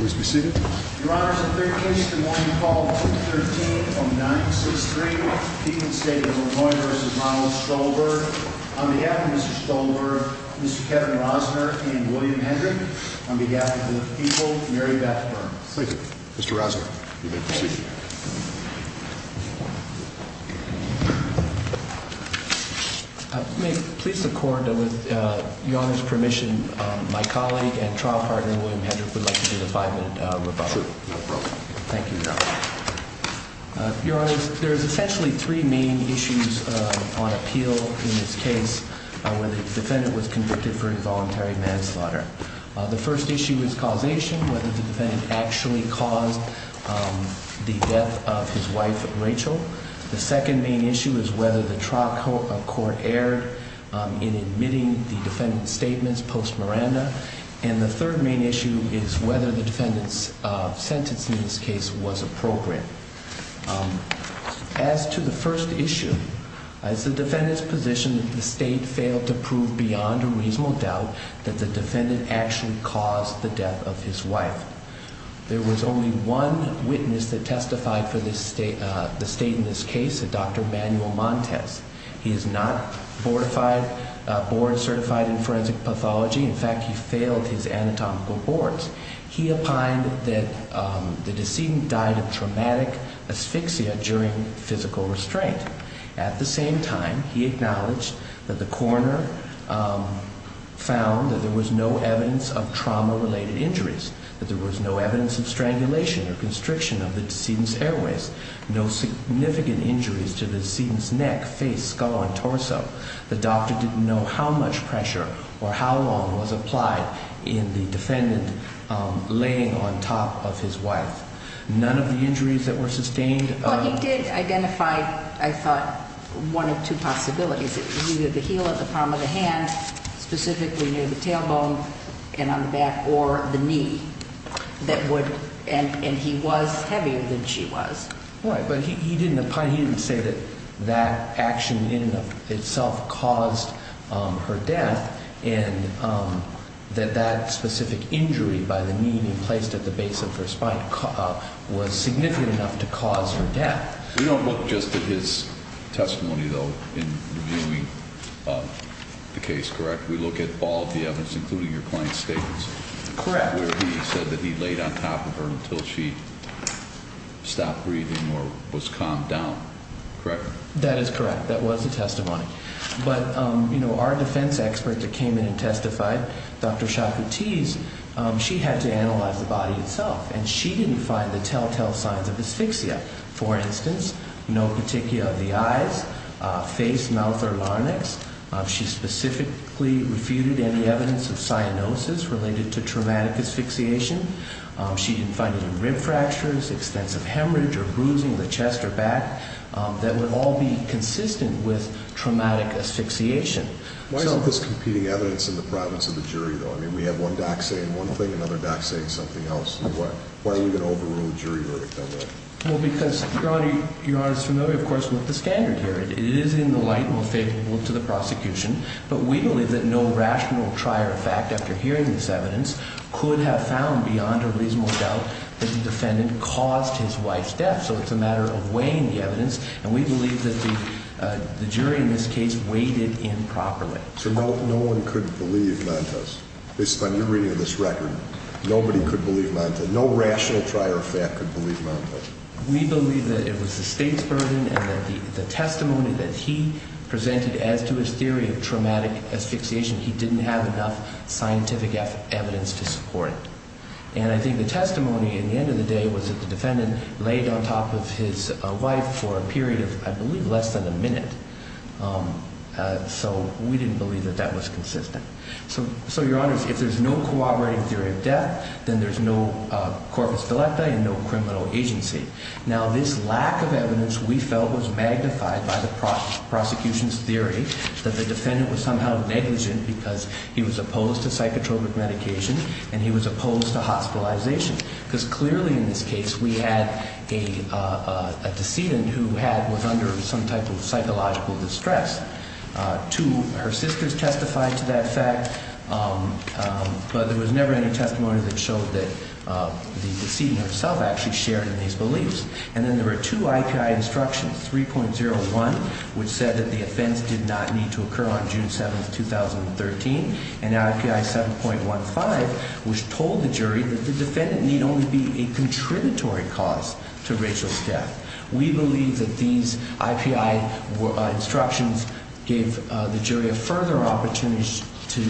On behalf of Mr. Stolberg, Mr. Kevin Rosner, and William Hendrick, on behalf of the people, Mary Beth Burns. Thank you. Mr. Rosner, you may proceed. May it please the Court that with Your Honor's permission, my colleague and trial partner William Hendrick would like to give a five-minute rebuttal. Sure. Thank you, Your Honor. Your Honor, there's essentially three main issues on appeal in this case where the defendant was convicted for involuntary manslaughter. The first issue is causation, whether the defendant actually caused the death of his wife, Rachel. The second main issue is whether the trial court erred in admitting the defendant's And the third main issue is whether the defendant's sentence in this case was appropriate. As to the first issue, as the defendant's position, the State failed to prove beyond a reasonable doubt that the defendant actually caused the death of his wife. There was only one witness that testified for the State in this case, Dr. Manuel Montes. He is not board certified in forensic pathology. In fact, he failed his anatomical boards. He opined that the decedent died of traumatic asphyxia during physical restraint. At the same time, he acknowledged that the coroner found that there was no evidence of trauma-related injuries, that there was no evidence of strangulation or constriction of the decedent's airways. No significant injuries to the decedent's neck, face, skull, and torso. The doctor didn't know how much pressure or how long was applied in the defendant laying on top of his wife. None of the injuries that were sustained... Well, he did identify, I thought, one of two possibilities. It was either the heel of the palm of the hand, specifically near the tailbone and on Right. But he didn't say that that action in and of itself caused her death and that that specific injury by the knee being placed at the base of her spine was significant enough to cause her death. We don't look just at his testimony, though, in reviewing the case, correct? We look at all of the evidence, including your client's statements... Correct. ...where he said that he laid on top of her until she stopped breathing or was calmed down, correct? That is correct. That was the testimony. But, you know, our defense expert that came in and testified, Dr. Chakoutis, she had to analyze the body itself, and she didn't find the telltale signs of asphyxia. For instance, no petechia of the eyes, face, mouth, or larynx. She specifically refuted any evidence of cyanosis related to traumatic asphyxiation. She didn't find any rib fractures, extensive hemorrhage or bruising of the chest or back that would all be consistent with traumatic asphyxiation. Why isn't this competing evidence in the province of the jury, though? I mean, we have one doc saying one thing, another doc saying something else. Why are we going to overrule the jury verdict that way? Well, because, Your Honor, as you're familiar, of course, with the standard here, it is in the light and favorable to the prosecution. But we believe that no rational trier of fact, after hearing this evidence, could have found beyond a reasonable doubt that the defendant caused his wife's death. So it's a matter of weighing the evidence, and we believe that the jury in this case weighed it in properly. So no one could believe Montes? Based on your reading of this record, nobody could believe Montes? No rational trier of fact could believe Montes? We believe that it was the state's burden and that the testimony that he presented as to his theory of traumatic asphyxiation, he didn't have enough scientific evidence to support it. And I think the testimony at the end of the day was that the defendant laid on top of his wife for a period of, I believe, less than a minute. So we didn't believe that that was consistent. So, Your Honor, if there's no corroborating theory of death, then there's no corpus delicta and no criminal agency. Now, this lack of evidence, we felt, was magnified by the prosecution's theory that the defendant was somehow negligent because he was opposed to psychotropic medication and he was opposed to hospitalization. Because clearly, in this case, we had a decedent who was under some type of psychological distress. Her sisters testified to that fact, but there was never any testimony that showed that the decedent herself actually shared in these beliefs. And then there were two IPI instructions, 3.01, which said that the offense did not need to occur on June 7, 2013, and IPI 7.15, which told the jury that the defendant need only be a contributory cause to Rachel's death. We believe that these IPI instructions gave the jury a further opportunity to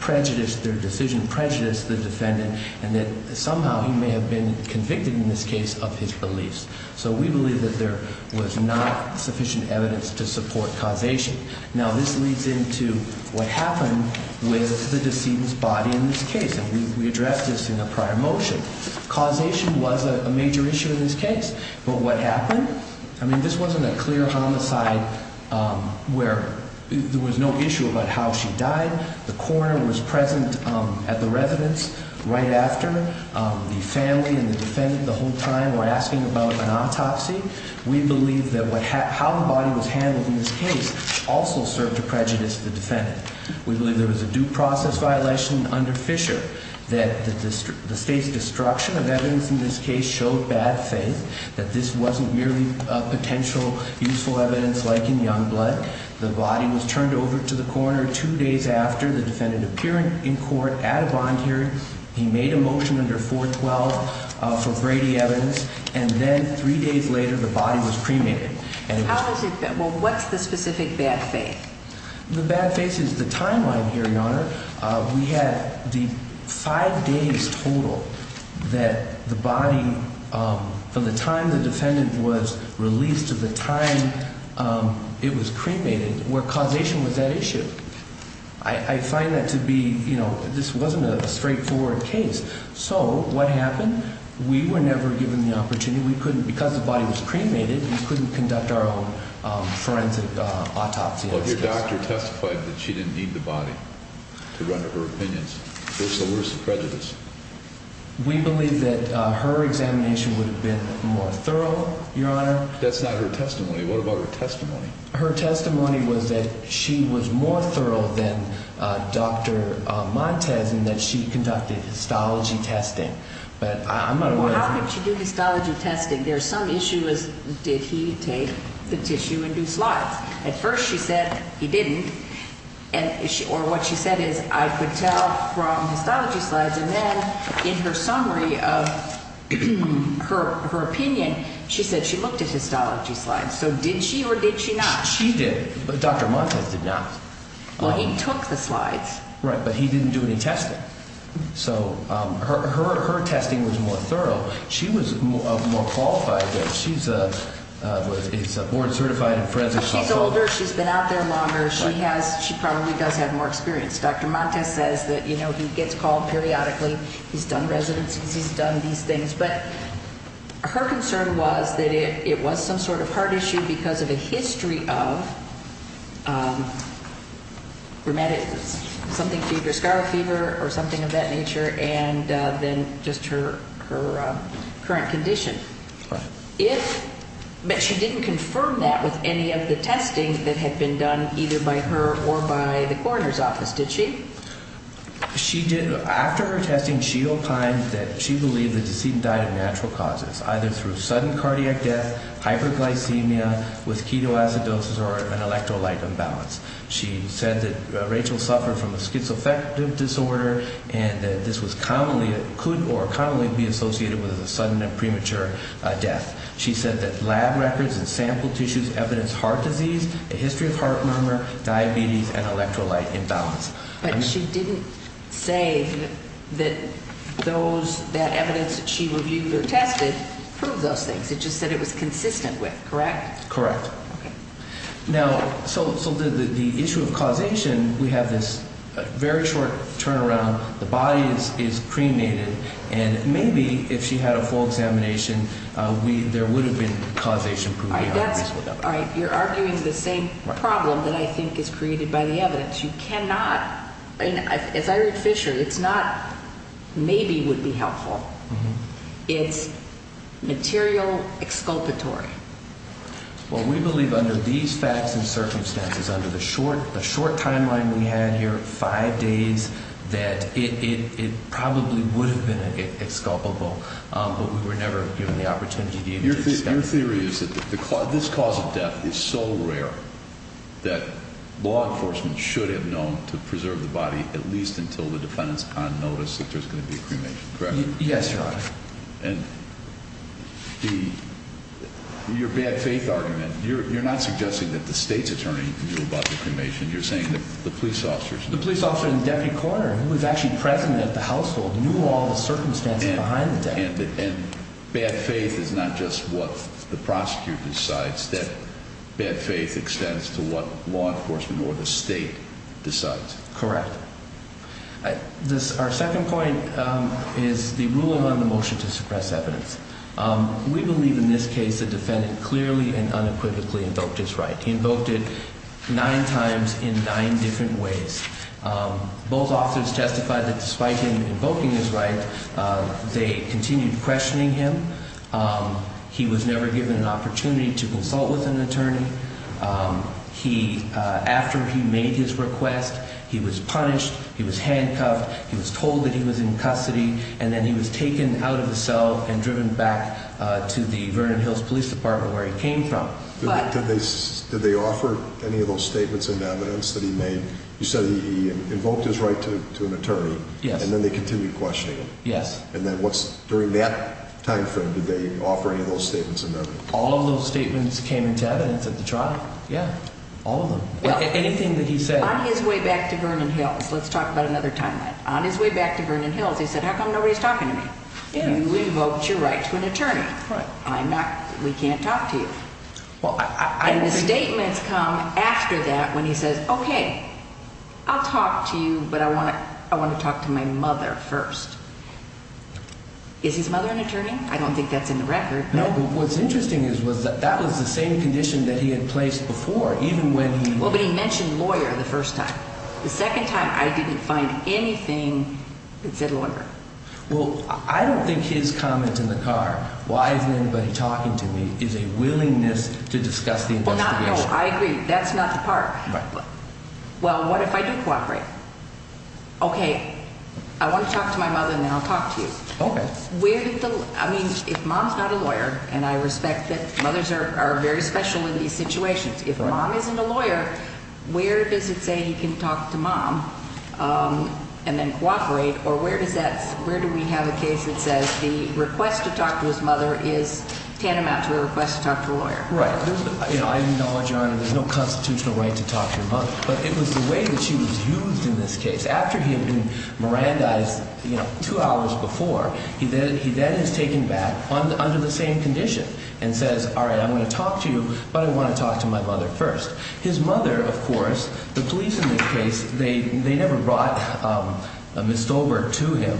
prejudice their decision, prejudice the defendant, and that somehow he may have been convicted in this case of his beliefs. So we believe that there was not sufficient evidence to support causation. Now, this leads into what happened with the decedent's body in this case. And we addressed this in a prior motion. Causation was a major issue in this case. But what happened? I mean, this wasn't a clear homicide where there was no issue about how she died. The coroner was present at the residence right after. The family and the defendant the whole time were asking about an autopsy. We believe that how the body was handled in this case also served to prejudice the defendant. We believe there was a due process violation under Fisher that the State's destruction of evidence in this case showed bad faith, that this wasn't merely a potential useful evidence like in young blood. The body was turned over to the coroner two days after the defendant appearing in court at a bond hearing. He made a motion under 412 for Brady evidence. And then three days later, the body was cremated. Well, what's the specific bad faith? The bad faith is the timeline here, Your Honor. We had the five days total that the body, from the time the defendant was released to the time it was cremated, where causation was at issue. I find that to be, you know, this wasn't a straightforward case. So what happened? We were never given the opportunity. We couldn't, because the body was cremated, we couldn't conduct our own forensic autopsy. Well, if your doctor testified that she didn't need the body to run her opinions, what's the worst prejudice? We believe that her examination would have been more thorough, Your Honor. That's not her testimony. What about her testimony? Her testimony was that she was more thorough than Dr. Montes in that she conducted histology testing. But I'm not aware of her. Well, how could she do histology testing? There's some issue as did he take the tissue and do slides. At first she said he didn't. Or what she said is I could tell from histology slides. And then in her summary of her opinion, she said she looked at histology slides. So did she or did she not? She did, but Dr. Montes did not. Well, he took the slides. Right, but he didn't do any testing. So her testing was more thorough. She was more qualified. She's board certified in forensic autopsy. She's older. She's been out there longer. She probably does have more experience. Dr. Montes says that, you know, he gets called periodically. He's done residencies. He's done these things. But her concern was that it was some sort of heart issue because of a history of rheumatic something fever, scar fever or something of that nature, and then just her current condition. But she didn't confirm that with any of the testing that had been done either by her or by the coroner's office, did she? She did. After her testing, she opined that she believed that the decedent died of natural causes, either through sudden cardiac death, hyperglycemia with ketoacidosis or an electrolyte imbalance. She said that Rachel suffered from a schizoaffective disorder and that this was commonly or could commonly be associated with a sudden and premature death. She said that lab records and sample tissues evidence heart disease, a history of heart murmur, diabetes and electrolyte imbalance. But she didn't say that those, that evidence that she reviewed or tested proved those things. It just said it was consistent with, correct? Correct. Okay. Now, so the issue of causation, we have this very short turnaround. The body is cremated. And maybe if she had a full examination, there would have been causation proof. You're arguing the same problem that I think is created by the evidence. You cannot, as I read Fisher, it's not maybe would be helpful. It's material exculpatory. Well, we believe under these facts and circumstances, under the short timeline we had here, five days, that it probably would have been exculpable. Your theory is that this cause of death is so rare that law enforcement should have known to preserve the body at least until the defendant's on notice that there's going to be a cremation, correct? Yes, Your Honor. And your bad faith argument, you're not suggesting that the state's attorney knew about the cremation. You're saying that the police officers knew. The police officer and the deputy coroner, who was actually present at the household, knew all the circumstances behind the death. And bad faith is not just what the prosecutor decides. Bad faith extends to what law enforcement or the state decides. Correct. Our second point is the ruling on the motion to suppress evidence. We believe in this case the defendant clearly and unequivocally invoked his right. He invoked it nine times in nine different ways. Both officers testified that despite him invoking his right, they continued questioning him. He was never given an opportunity to consult with an attorney. After he made his request, he was punished, he was handcuffed, he was told that he was in custody, and then he was taken out of the cell and driven back to the Vernon Hills Police Department where he came from. Did they offer any of those statements of evidence that he made? You said he invoked his right to an attorney. Yes. And then they continued questioning him. Yes. And then during that time frame, did they offer any of those statements of evidence? All of those statements came into evidence at the trial. Yeah. All of them. Anything that he said. On his way back to Vernon Hills, let's talk about another timeline. On his way back to Vernon Hills, he said, how come nobody's talking to me? You invoked your right to an attorney. Right. I'm not, we can't talk to you. And the statements come after that when he says, okay, I'll talk to you, but I want to talk to my mother first. Is his mother an attorney? I don't think that's in the record. No, but what's interesting is that that was the same condition that he had placed before, even when he... Well, but he mentioned lawyer the first time. The second time, I didn't find anything that said lawyer. Well, I don't think his comment in the car, why isn't anybody talking to me, is a willingness to discuss the investigation. Well, not, no, I agree. That's not the part. Right. Well, what if I do cooperate? Okay, I want to talk to my mother and then I'll talk to you. Okay. Where did the, I mean, if mom's not a lawyer, and I respect that mothers are very special in these situations. If mom isn't a lawyer, where does it say he can talk to mom and then cooperate? Or where does that, where do we have a case that says the request to talk to his mother is tantamount to a request to talk to a lawyer? Right. You know, I acknowledge, Your Honor, there's no constitutional right to talk to your mother, but it was the way that she was used in this case. After he had been Mirandized, you know, two hours before, he then is taken back under the same condition and says, all right, I'm going to talk to you, but I want to talk to my mother first. His mother, of course, the police in this case, they never brought Ms. Stolberg to him.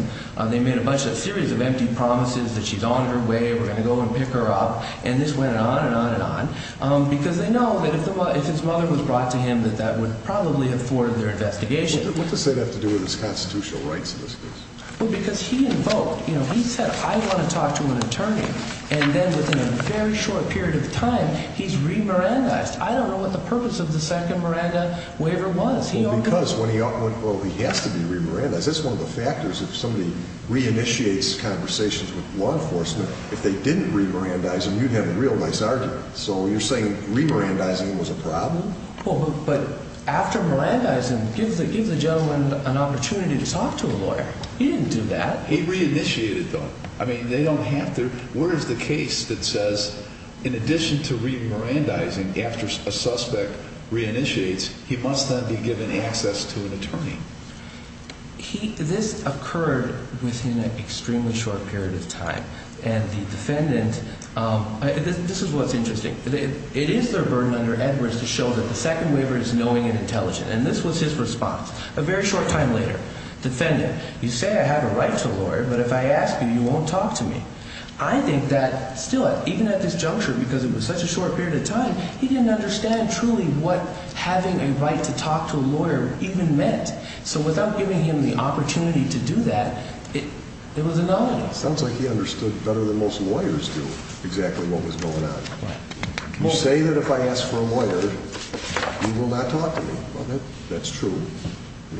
They made a bunch of, a series of empty promises that she's on her way, we're going to go and pick her up, and this went on and on and on. Because they know that if his mother was brought to him, that that would probably have thwarted their investigation. What does that have to do with his constitutional rights in this case? Well, because he invoked, you know, he said, I want to talk to an attorney. And then within a very short period of time, he's re-Mirandized. I don't know what the purpose of the second Miranda waiver was. Well, because he has to be re-Mirandized. That's one of the factors if somebody re-initiates conversations with law enforcement. If they didn't re-Mirandize him, you'd have a real nice argument. So you're saying re-Mirandizing was a problem? Well, but after Mirandizing, give the gentleman an opportunity to talk to a lawyer. He didn't do that. He re-initiated though. I mean, they don't have to. Where is the case that says in addition to re-Mirandizing after a suspect re-initiates, he must then be given access to an attorney? This occurred within an extremely short period of time. And the defendant, this is what's interesting. It is their burden under Edwards to show that the second waiver is knowing and intelligent. And this was his response. A very short time later, defendant, you say I have a right to a lawyer. But if I ask you, you won't talk to me. I think that still, even at this juncture, because it was such a short period of time, he didn't understand truly what having a right to talk to a lawyer even meant. So without giving him the opportunity to do that, it was a no-no. Sounds like he understood better than most lawyers do exactly what was going on. You say that if I ask for a lawyer, you will not talk to me. Well, that's true.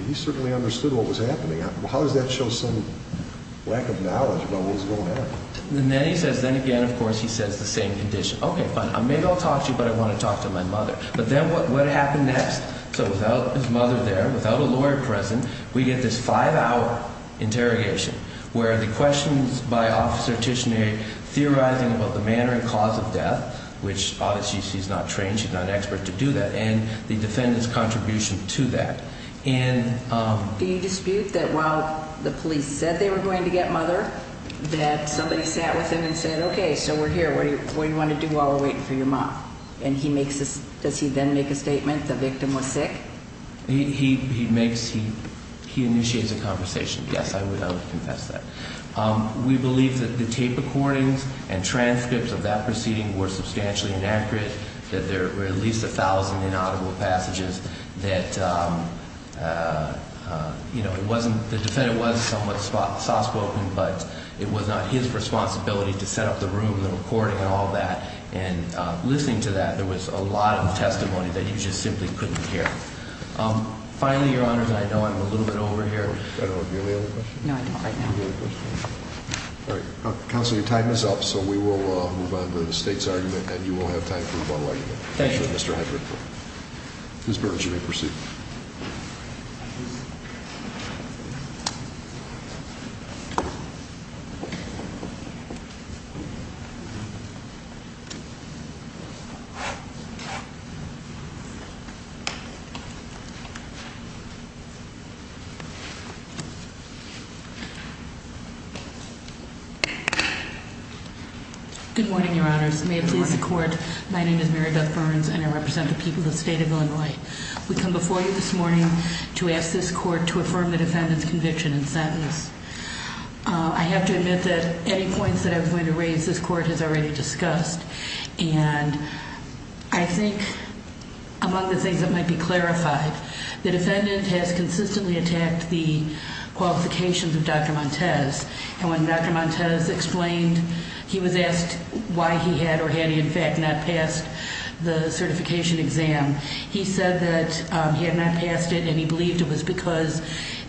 He certainly understood what was happening. How does that show some lack of knowledge about what was going on? And then he says, then again, of course, he says the same condition. Okay, fine. Maybe I'll talk to you, but I want to talk to my mother. But then what happened next? So without his mother there, without a lawyer present, we get this five-hour interrogation where the questions by Officer Tishneri theorizing about the manner and cause of death, which obviously she's not trained, she's not an expert to do that, and the defendant's contribution to that. Do you dispute that while the police said they were going to get mother, that somebody sat with him and said, okay, so we're here. What do you want to do while we're waiting for your mom? And does he then make a statement the victim was sick? He initiates a conversation. Yes, I would confess that. We believe that the tape recordings and transcripts of that proceeding were substantially inaccurate, that there were at least a thousand inaudible passages, that the defendant was somewhat soft-spoken, but it was not his responsibility to set up the room, the recording and all that. And listening to that, there was a lot of testimony that you just simply couldn't hear. Finally, Your Honors, I know I'm a little bit over here. Do you have any other questions? No, I don't right now. All right. Counsel, your time is up, so we will move on to the state's argument, and you will have time for rebuttal later. Thank you, Mr. Hedrick. Ms. Burrage, you may proceed. Good morning, Your Honors. May it please the Court, my name is Mary Beth Burns, and I represent the people of the state of Illinois. We come before you this morning to ask this Court to affirm the defendant's conviction and sentence. I have to admit that any points that I'm going to raise, this Court has already discussed. And I think among the things that might be clarified, the defendant has consistently attacked the qualifications of Dr. Montez. And when Dr. Montez explained he was asked why he had or had he, in fact, not passed the certification exam, he said that he had not passed it and he believed it was because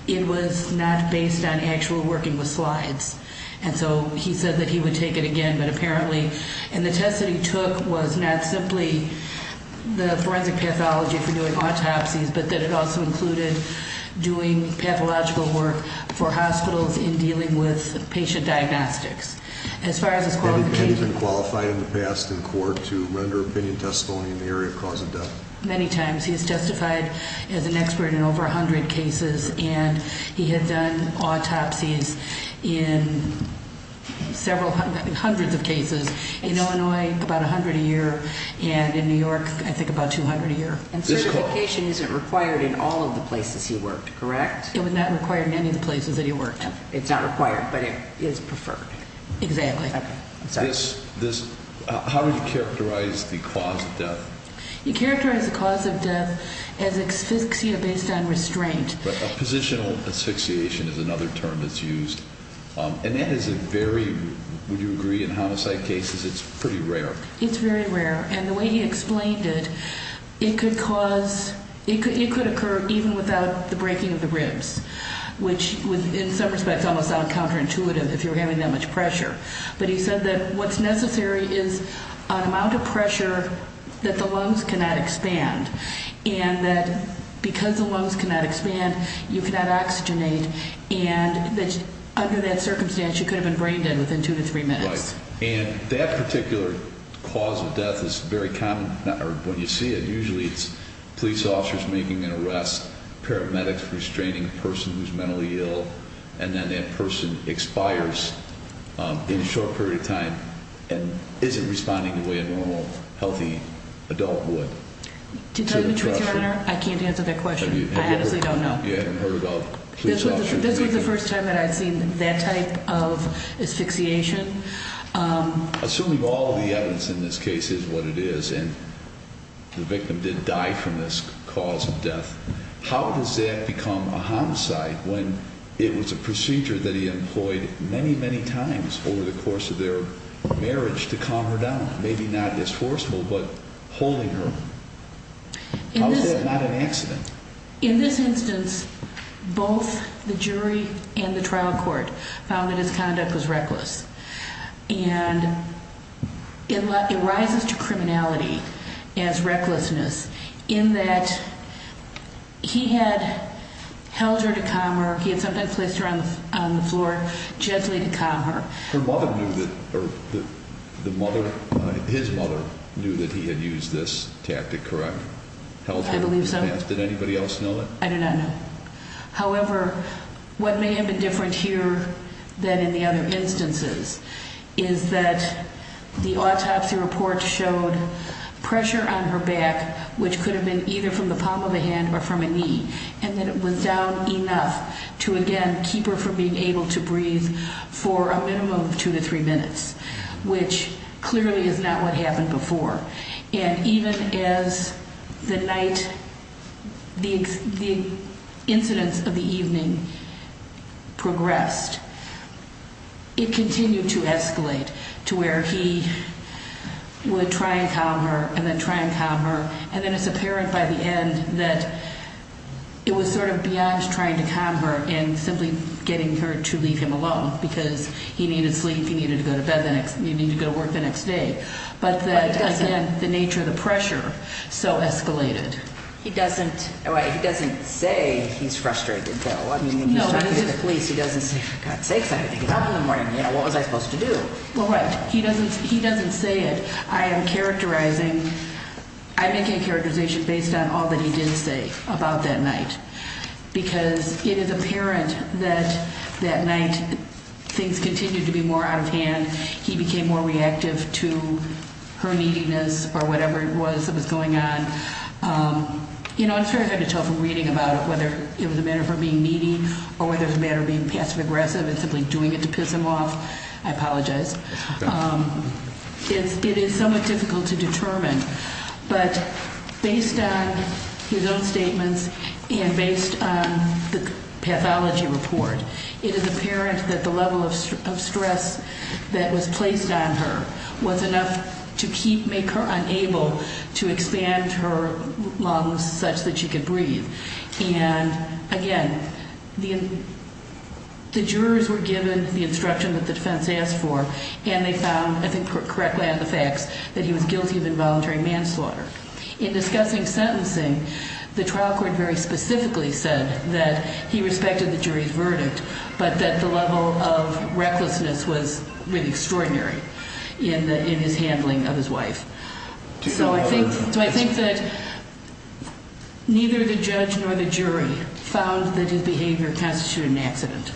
it was not based on actual working with slides. And so he said that he would take it again, but apparently. And the test that he took was not simply the forensic pathology for doing autopsies, but that it also included doing pathological work for hospitals in dealing with patient diagnostics. As far as his qualification- Has he been qualified in the past in court to render opinion testimony in the area of cause of death? Many times. He has testified as an expert in over 100 cases. And he has done autopsies in several hundreds of cases. In Illinois, about 100 a year. And in New York, I think about 200 a year. And certification isn't required in all of the places he worked, correct? It was not required in any of the places that he worked. It's not required, but it is preferred. Exactly. Okay. How would you characterize the cause of death? You characterize the cause of death as asphyxia based on restraint. Positional asphyxiation is another term that's used. And that is a very, would you agree, in homicide cases, it's pretty rare. It's very rare. And the way he explained it, it could cause, it could occur even without the breaking of the ribs, which in some respects almost sounds counterintuitive if you're having that much pressure. But he said that what's necessary is an amount of pressure that the lungs cannot expand. And that because the lungs cannot expand, you cannot oxygenate. And that under that circumstance, you could have been brain dead within two to three minutes. Right. And that particular cause of death is very common. When you see it, usually it's police officers making an arrest, paramedics restraining a person who's mentally ill, and then that person expires in a short period of time and isn't responding the way a normal, healthy adult would. To tell you the truth, Your Honor, I can't answer that question. I honestly don't know. You haven't heard of police officers? This was the first time that I'd seen that type of asphyxiation. Assuming all of the evidence in this case is what it is and the victim did die from this cause of death, how does that become a homicide when it was a procedure that he employed many, many times over the course of their marriage to calm her down, maybe not as forceful, but holding her? How is that not an accident? In this instance, both the jury and the trial court found that his conduct was reckless, and it rises to criminality as recklessness in that he had held her to calm her. He had sometimes placed her on the floor gently to calm her. Her mother knew that, or his mother knew that he had used this tactic, correct? I believe so. Did anybody else know that? I do not know. However, what may have been different here than in the other instances is that the autopsy report showed pressure on her back, which could have been either from the palm of the hand or from a knee, and that it was down enough to, again, keep her from being able to breathe for a minimum of two to three minutes, which clearly is not what happened before. And even as the night, the incidence of the evening progressed, it continued to escalate to where he would try and calm her and then try and calm her, and then it's apparent by the end that it was sort of beyond trying to calm her and simply getting her to leave him alone because he needed sleep, he needed to go to bed, he needed to go to work the next day. But that, again, the nature of the pressure so escalated. He doesn't say he's frustrated, though. When he's talking to the police, he doesn't say, for God's sakes, I had to get up in the morning. What was I supposed to do? Well, right. He doesn't say it. I am characterizing, I'm making a characterization based on all that he did say about that night because it is apparent that that night things continued to be more out of hand. He became more reactive to her neediness or whatever it was that was going on. You know, it's very hard to tell from reading about it whether it was a matter of her being needy or whether it was a matter of being passive aggressive and simply doing it to piss him off. I apologize. It is somewhat difficult to determine. But based on his own statements and based on the pathology report, it is apparent that the level of stress that was placed on her was enough to make her unable to expand her lungs such that she could breathe. And, again, the jurors were given the instruction that the defense asked for, and they found, I think correctly on the facts, that he was guilty of involuntary manslaughter. In discussing sentencing, the trial court very specifically said that he respected the jury's verdict but that the level of recklessness was really extraordinary in his handling of his wife. So I think that neither the judge nor the jury found that his behavior constituted an accident.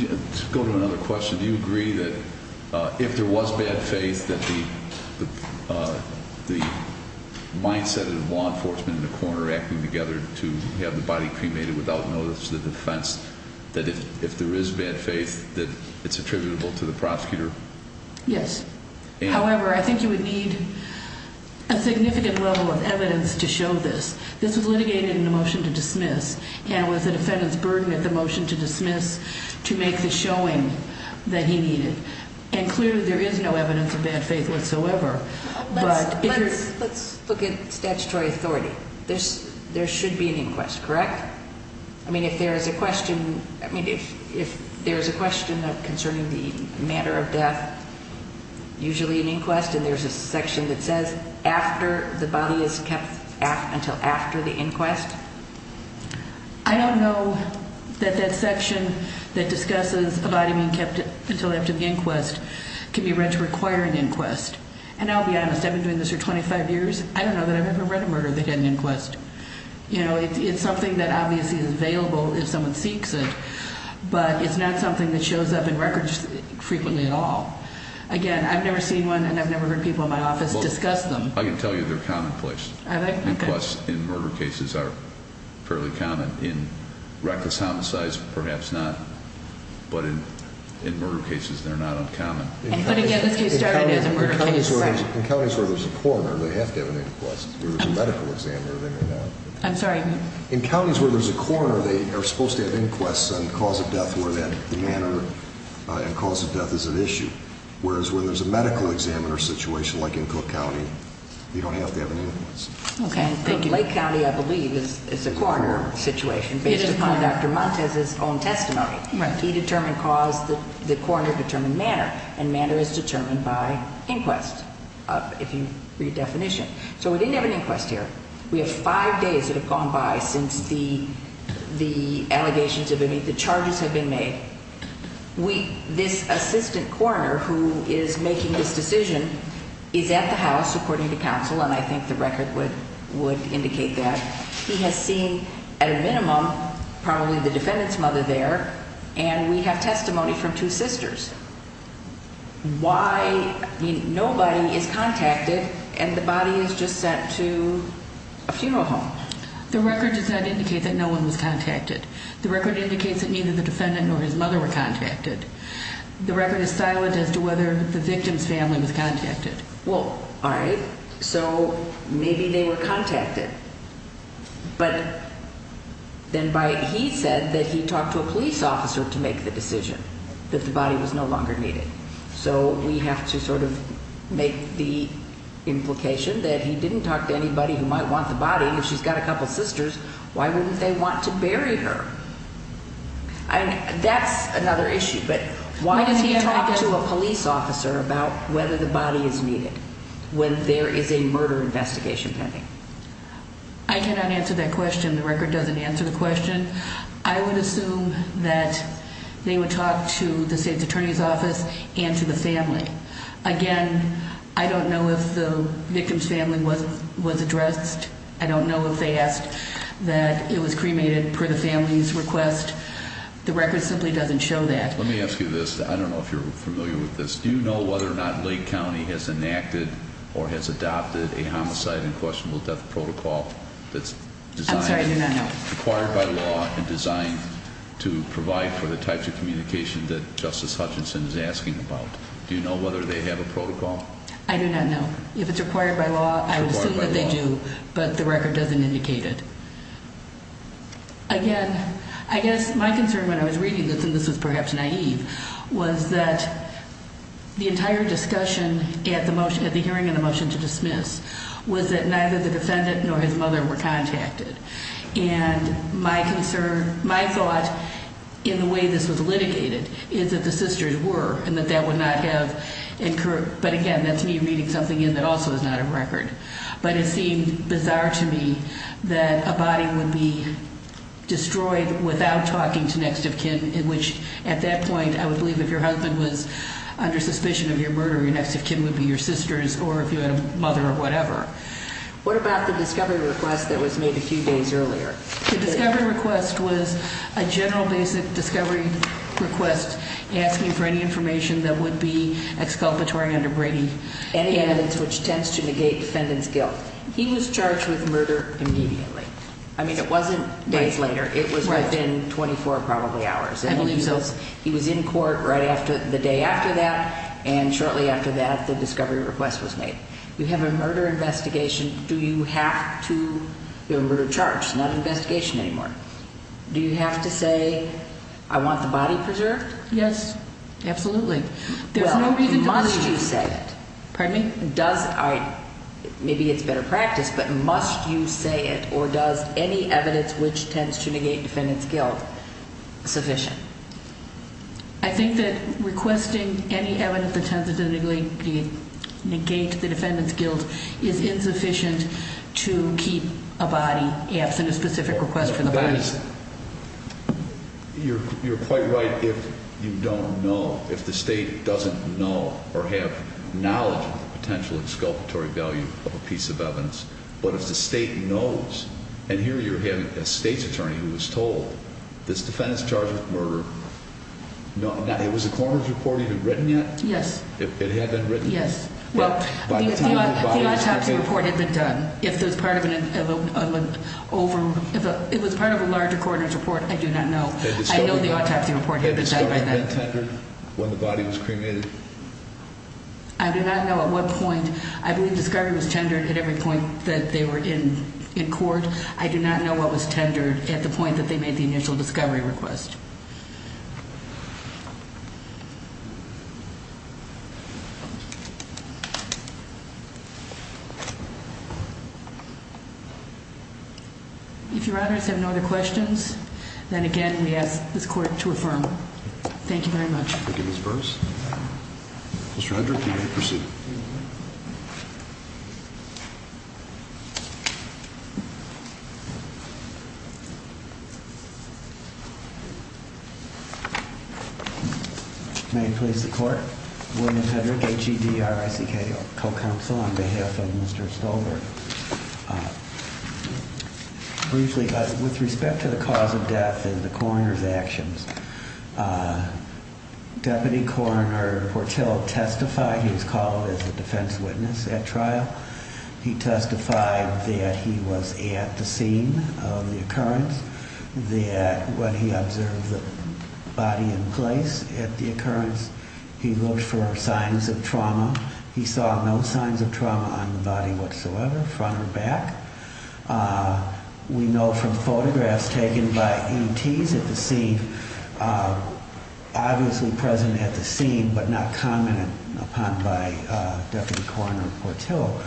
Let's go to another question. Do you agree that if there was bad faith that the mindset of law enforcement and the coroner acting together to have the body cremated without notice to the defense, that if there is bad faith that it's attributable to the prosecutor? Yes. However, I think you would need a significant level of evidence to show this. This was litigated in the motion to dismiss, and it was the defendant's burden at the motion to dismiss to make the showing that he needed. And clearly there is no evidence of bad faith whatsoever. Let's look at statutory authority. There should be an inquest, correct? I mean, if there is a question concerning the matter of death, usually an inquest, and there's a section that says after the body is kept until after the inquest? I don't know that that section that discusses a body being kept until after the inquest can be read to require an inquest. And I'll be honest, I've been doing this for 25 years. I don't know that I've ever read a murder that had an inquest. You know, it's something that obviously is available if someone seeks it, but it's not something that shows up in records frequently at all. Again, I've never seen one, and I've never heard people in my office discuss them. I can tell you they're commonplace. Inquests in murder cases are fairly common. In reckless homicides, perhaps not. But in murder cases, they're not uncommon. In counties where there's a coroner, they have to have an inquest. If there's a medical examiner, then they're not. I'm sorry? In counties where there's a coroner, they are supposed to have inquests on cause of death where that manner and cause of death is at issue, whereas where there's a medical examiner situation like in Cook County, you don't have to have an inquest. Okay. Lake County, I believe, is a coroner situation based upon Dr. Montes' own testimony. Right. He determined cause, the coroner determined manner, and manner is determined by inquest, if you read definition. So we didn't have an inquest here. We have five days that have gone by since the allegations have been made, the charges have been made. This assistant coroner who is making this decision is at the house, according to counsel, and I think the record would indicate that. He has seen, at a minimum, probably the defendant's mother there, and we have testimony from two sisters. Why? Nobody is contacted, and the body is just sent to a funeral home. The record does not indicate that no one was contacted. The record indicates that neither the defendant nor his mother were contacted. The record is silent as to whether the victim's family was contacted. Well, all right, so maybe they were contacted, but then he said that he talked to a police officer to make the decision that the body was no longer needed. So we have to sort of make the implication that he didn't talk to anybody who might want the body, and if she's got a couple sisters, why wouldn't they want to bury her? That's another issue, but why does he talk to a police officer about whether the body is needed when there is a murder investigation pending? I cannot answer that question. The record doesn't answer the question. I would assume that they would talk to the state's attorney's office and to the family. Again, I don't know if the victim's family was addressed. I don't know if they asked that it was cremated per the family's request. The record simply doesn't show that. Let me ask you this. I don't know if you're familiar with this. Do you know whether or not Lake County has enacted or has adopted a homicide and questionable death protocol that's designed... I'm sorry, I do not know. ...required by law and designed to provide for the types of communication that Justice Hutchinson is asking about? Do you know whether they have a protocol? I do not know. If it's required by law, I would assume that they do, but the record doesn't indicate it. Again, I guess my concern when I was reading this, and this was perhaps naive, was that the entire discussion at the hearing and the motion to dismiss was that neither the defendant nor his mother were contacted. And my concern, my thought, in the way this was litigated is that the sisters were and that that would not have incurred. But again, that's me reading something in that also is not a record. But it seemed bizarre to me that a body would be destroyed without talking to next of kin, which at that point I would believe if your husband was under suspicion of your murder, your next of kin would be your sisters or if you had a mother or whatever. What about the discovery request that was made a few days earlier? The discovery request was a general basic discovery request asking for any information that would be exculpatory under Brady. Any evidence which tends to negate defendant's guilt. He was charged with murder immediately. I mean, it wasn't days later. It was within 24 probably hours. I believe so. He was in court right after the day after that, and shortly after that the discovery request was made. You have a murder investigation. Do you have to be a murder charge? It's not an investigation anymore. Do you have to say I want the body preserved? Yes, absolutely. There's no reason. Well, must you say it? Pardon me? Does I maybe it's better practice, but must you say it or does any evidence which tends to negate defendant's guilt sufficient? I think that requesting any evidence that tends to negate the defendant's guilt is insufficient to keep a body absent a specific request for the body. You're quite right if you don't know, if the state doesn't know or have knowledge of the potential exculpatory value of a piece of evidence. But if the state knows, and here you're having a state's attorney who was told this defendant's charged with murder. It was a coroner's report even written yet? Yes. It had been written? Yes. The autopsy report had been done. It was part of a larger coroner's report. I do not know. I know the autopsy report had been done. Had the discovery been tendered when the body was cremated? I do not know at what point. I believe discovery was tendered at every point that they were in court. I do not know what was tendered at the point that they made the initial discovery request. If your honors have no other questions, then again we ask this court to affirm. Thank you very much. Thank you, Ms. Burrs. Mr. Hendrick, you may proceed. May it please the court? William Hendrick, H-E-D-R-I-C-K, co-counsel on behalf of Mr. Stolberg. Briefly, with respect to the cause of death and the coroner's actions. Deputy Coroner Portillo testified. He was called as a defense witness at trial. He testified that he was at the scene of the occurrence. That when he observed the body in place at the occurrence, he looked for signs of trauma. He saw no signs of trauma on the body whatsoever, front or back. We know from photographs taken by E.T.s at the scene, obviously present at the scene, but not commented upon by Deputy Coroner Portillo,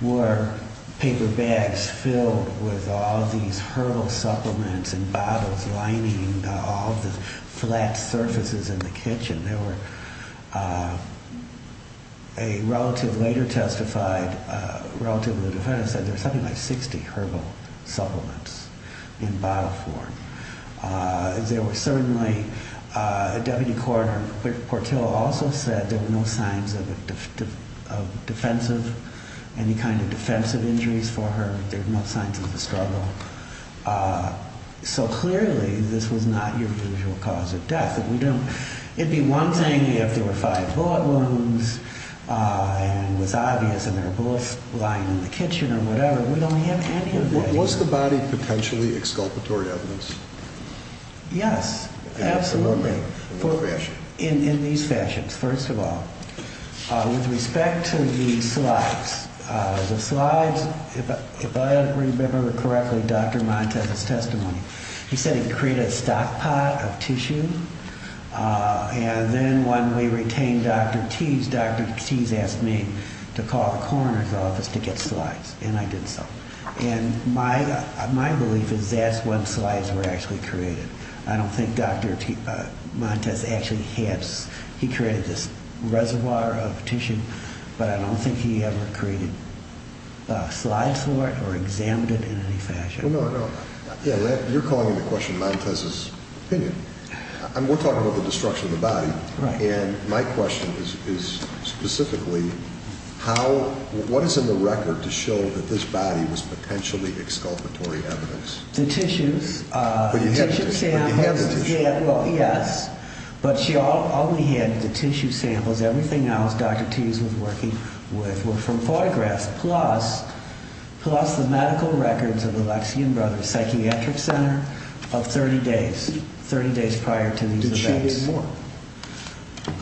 were paper bags filled with all these herbal supplements and bottles lining all the flat surfaces in the kitchen. There were a relative later testified, relative to the defense, said there were something like 60 herbal supplements in bottle form. There were certainly, Deputy Coroner Portillo also said there were no signs of defensive, any kind of defensive injuries for her. There were no signs of a struggle. It would be one thing if there were five bullet wounds and it was obvious and there were bullets lying in the kitchen or whatever. We don't have any of that. Was the body potentially exculpatory evidence? Yes, absolutely. In what fashion? In these fashions, first of all. With respect to the slides, the slides, if I remember correctly, Dr. Montez's testimony, he said he created a stockpot of tissue, and then when we retained Dr. Teese, Dr. Teese asked me to call the coroner's office to get slides, and I did so. And my belief is that's when slides were actually created. I don't think Dr. Montez actually had, he created this reservoir of tissue, but I don't think he ever created slides for it or examined it in any fashion. You're calling into question Montez's opinion. We're talking about the destruction of the body, and my question is specifically, what is in the record to show that this body was potentially exculpatory evidence? The tissues. But you have the tissue. Yes, but all we had were the tissue samples. Everything else Dr. Teese was working with were from photographs, plus the medical records of the Lexington Brothers Psychiatric Center of 30 days, 30 days prior to these events. Did she need more?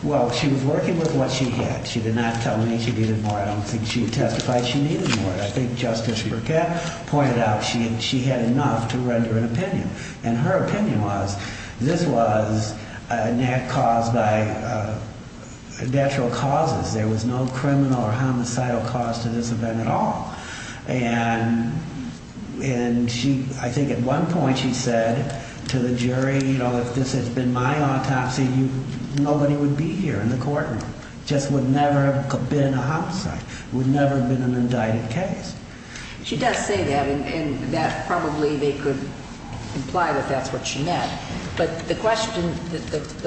Well, she was working with what she had. She did not tell me she needed more. I don't think she testified she needed more. I think Justice Burkett pointed out she had enough to render an opinion, and her opinion was this was a natural cause. There was no criminal or homicidal cause to this event at all. And I think at one point she said to the jury, you know, if this had been my autopsy, nobody would be here in the courtroom. It just would never have been a homicide. It would never have been an indicted case. She does say that, and probably they could imply that that's what she meant. But the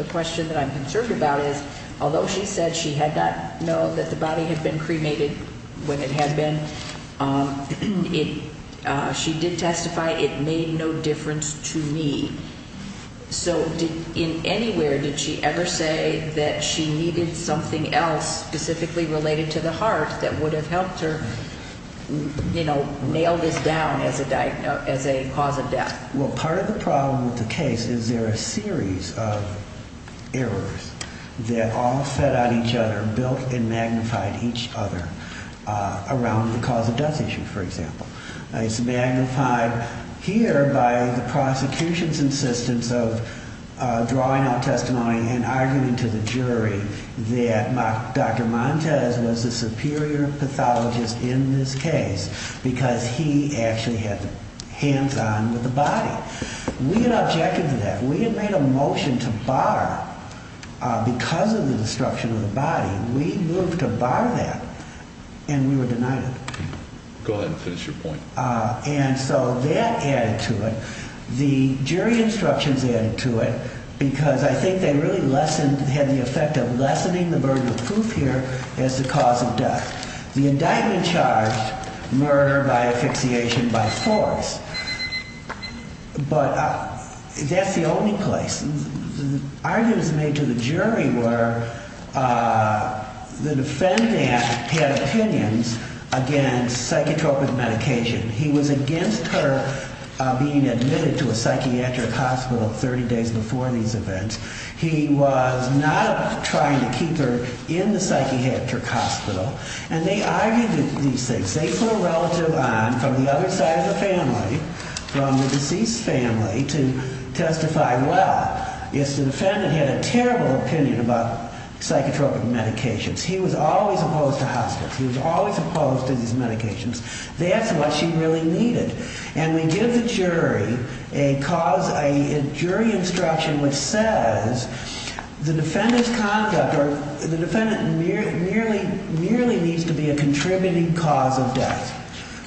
question that I'm concerned about is, although she said she had not known that the body had been cremated when it had been, she did testify it made no difference to me. So in anywhere did she ever say that she needed something else specifically related to the heart that would have helped her, you know, nail this down as a cause of death? Well, part of the problem with the case is there are a series of errors that all fed on each other, built and magnified each other around the cause of death issue, for example. It's magnified here by the prosecution's insistence of drawing out testimony and arguing to the jury that Dr. Montes was the superior pathologist in this case because he actually had hands on with the body. We had objected to that. We had made a motion to bar because of the destruction of the body. We moved to bar that, and we were denied it. Go ahead and finish your point. And so that added to it. The jury instructions added to it because I think they really lessened, had the effect of lessening the burden of proof here as the cause of death. The indictment charged murder by asphyxiation by force, but that's the only place. The arguments made to the jury were the defendant had opinions against psychotropic medication. He was against her being admitted to a psychiatric hospital 30 days before these events. He was not trying to keep her in the psychiatric hospital. And they argued these things. They put a relative on from the other side of the family, from the deceased family, to testify well if the defendant had a terrible opinion about psychotropic medications. He was always opposed to hospice. He was always opposed to these medications. That's what she really needed. And we give the jury a cause, a jury instruction which says the defendant's conduct or the defendant merely needs to be a contributing cause of death.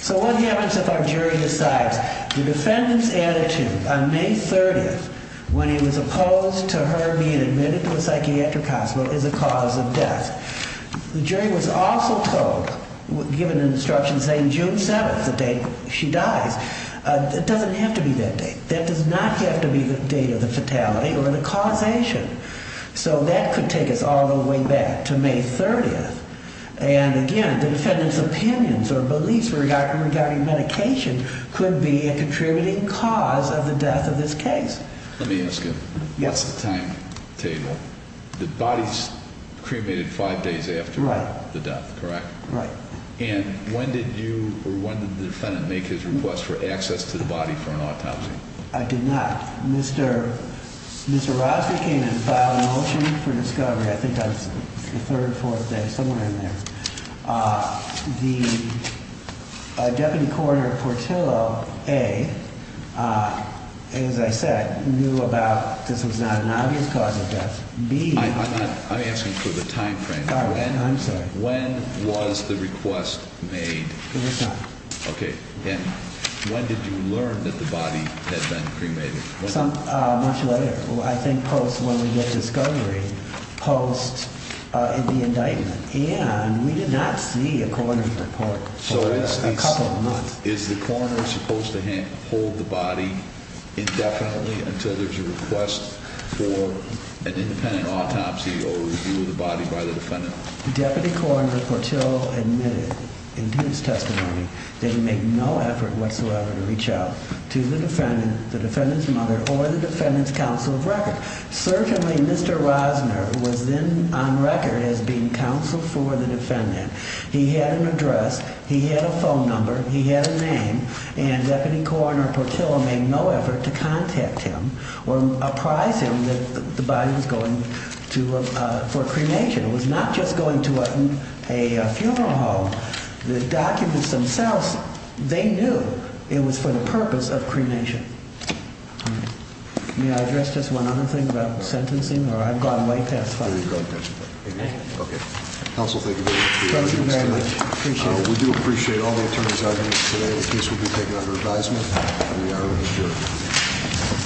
So what happens if our jury decides the defendant's attitude on May 30th when he was opposed to her being admitted to a psychiatric hospital is a cause of death? The jury was also told, given an instruction saying June 7th, the date she dies, it doesn't have to be that date. That does not have to be the date of the fatality or the causation. So that could take us all the way back to May 30th. And again, the defendant's opinions or beliefs regarding medication could be a contributing cause of the death of this case. Let me ask you, what's the timetable? The body's cremated 5 days after the death, correct? Right. And when did the defendant make his request for access to the body for an autopsy? I did not. Mr. Rosner came and filed a motion for discovery, I think on the third or fourth day, somewhere in there. The deputy coroner Portillo, A, as I said, knew about this was not an obvious cause of death. I'm asking for the time frame. I'm sorry. When was the request made? It was not. Okay. And when did you learn that the body had been cremated? Much later. I think post when we get discovery, post the indictment. And we did not see a coroner's report for a couple of months. So is the coroner supposed to hold the body indefinitely until there's a request for an independent autopsy or review of the body by the defendant? Deputy Coroner Portillo admitted in his testimony that he made no effort whatsoever to reach out to the defendant, the defendant's mother, or the defendant's counsel of record. Certainly, Mr. Rosner was then on record as being counsel for the defendant. He had an address. He had a phone number. He had a name. And Deputy Coroner Portillo made no effort to contact him or apprise him that the body was going for cremation. It was not just going to a funeral home. The documents themselves, they knew it was for the purpose of cremation. May I address just one other thing about sentencing? Or I've gone way past time. Okay. Counsel, thank you very much for your testimony. Thank you very much. Appreciate it. We do appreciate all the attorneys out here today. The case will be taken under advisement. We are reassured.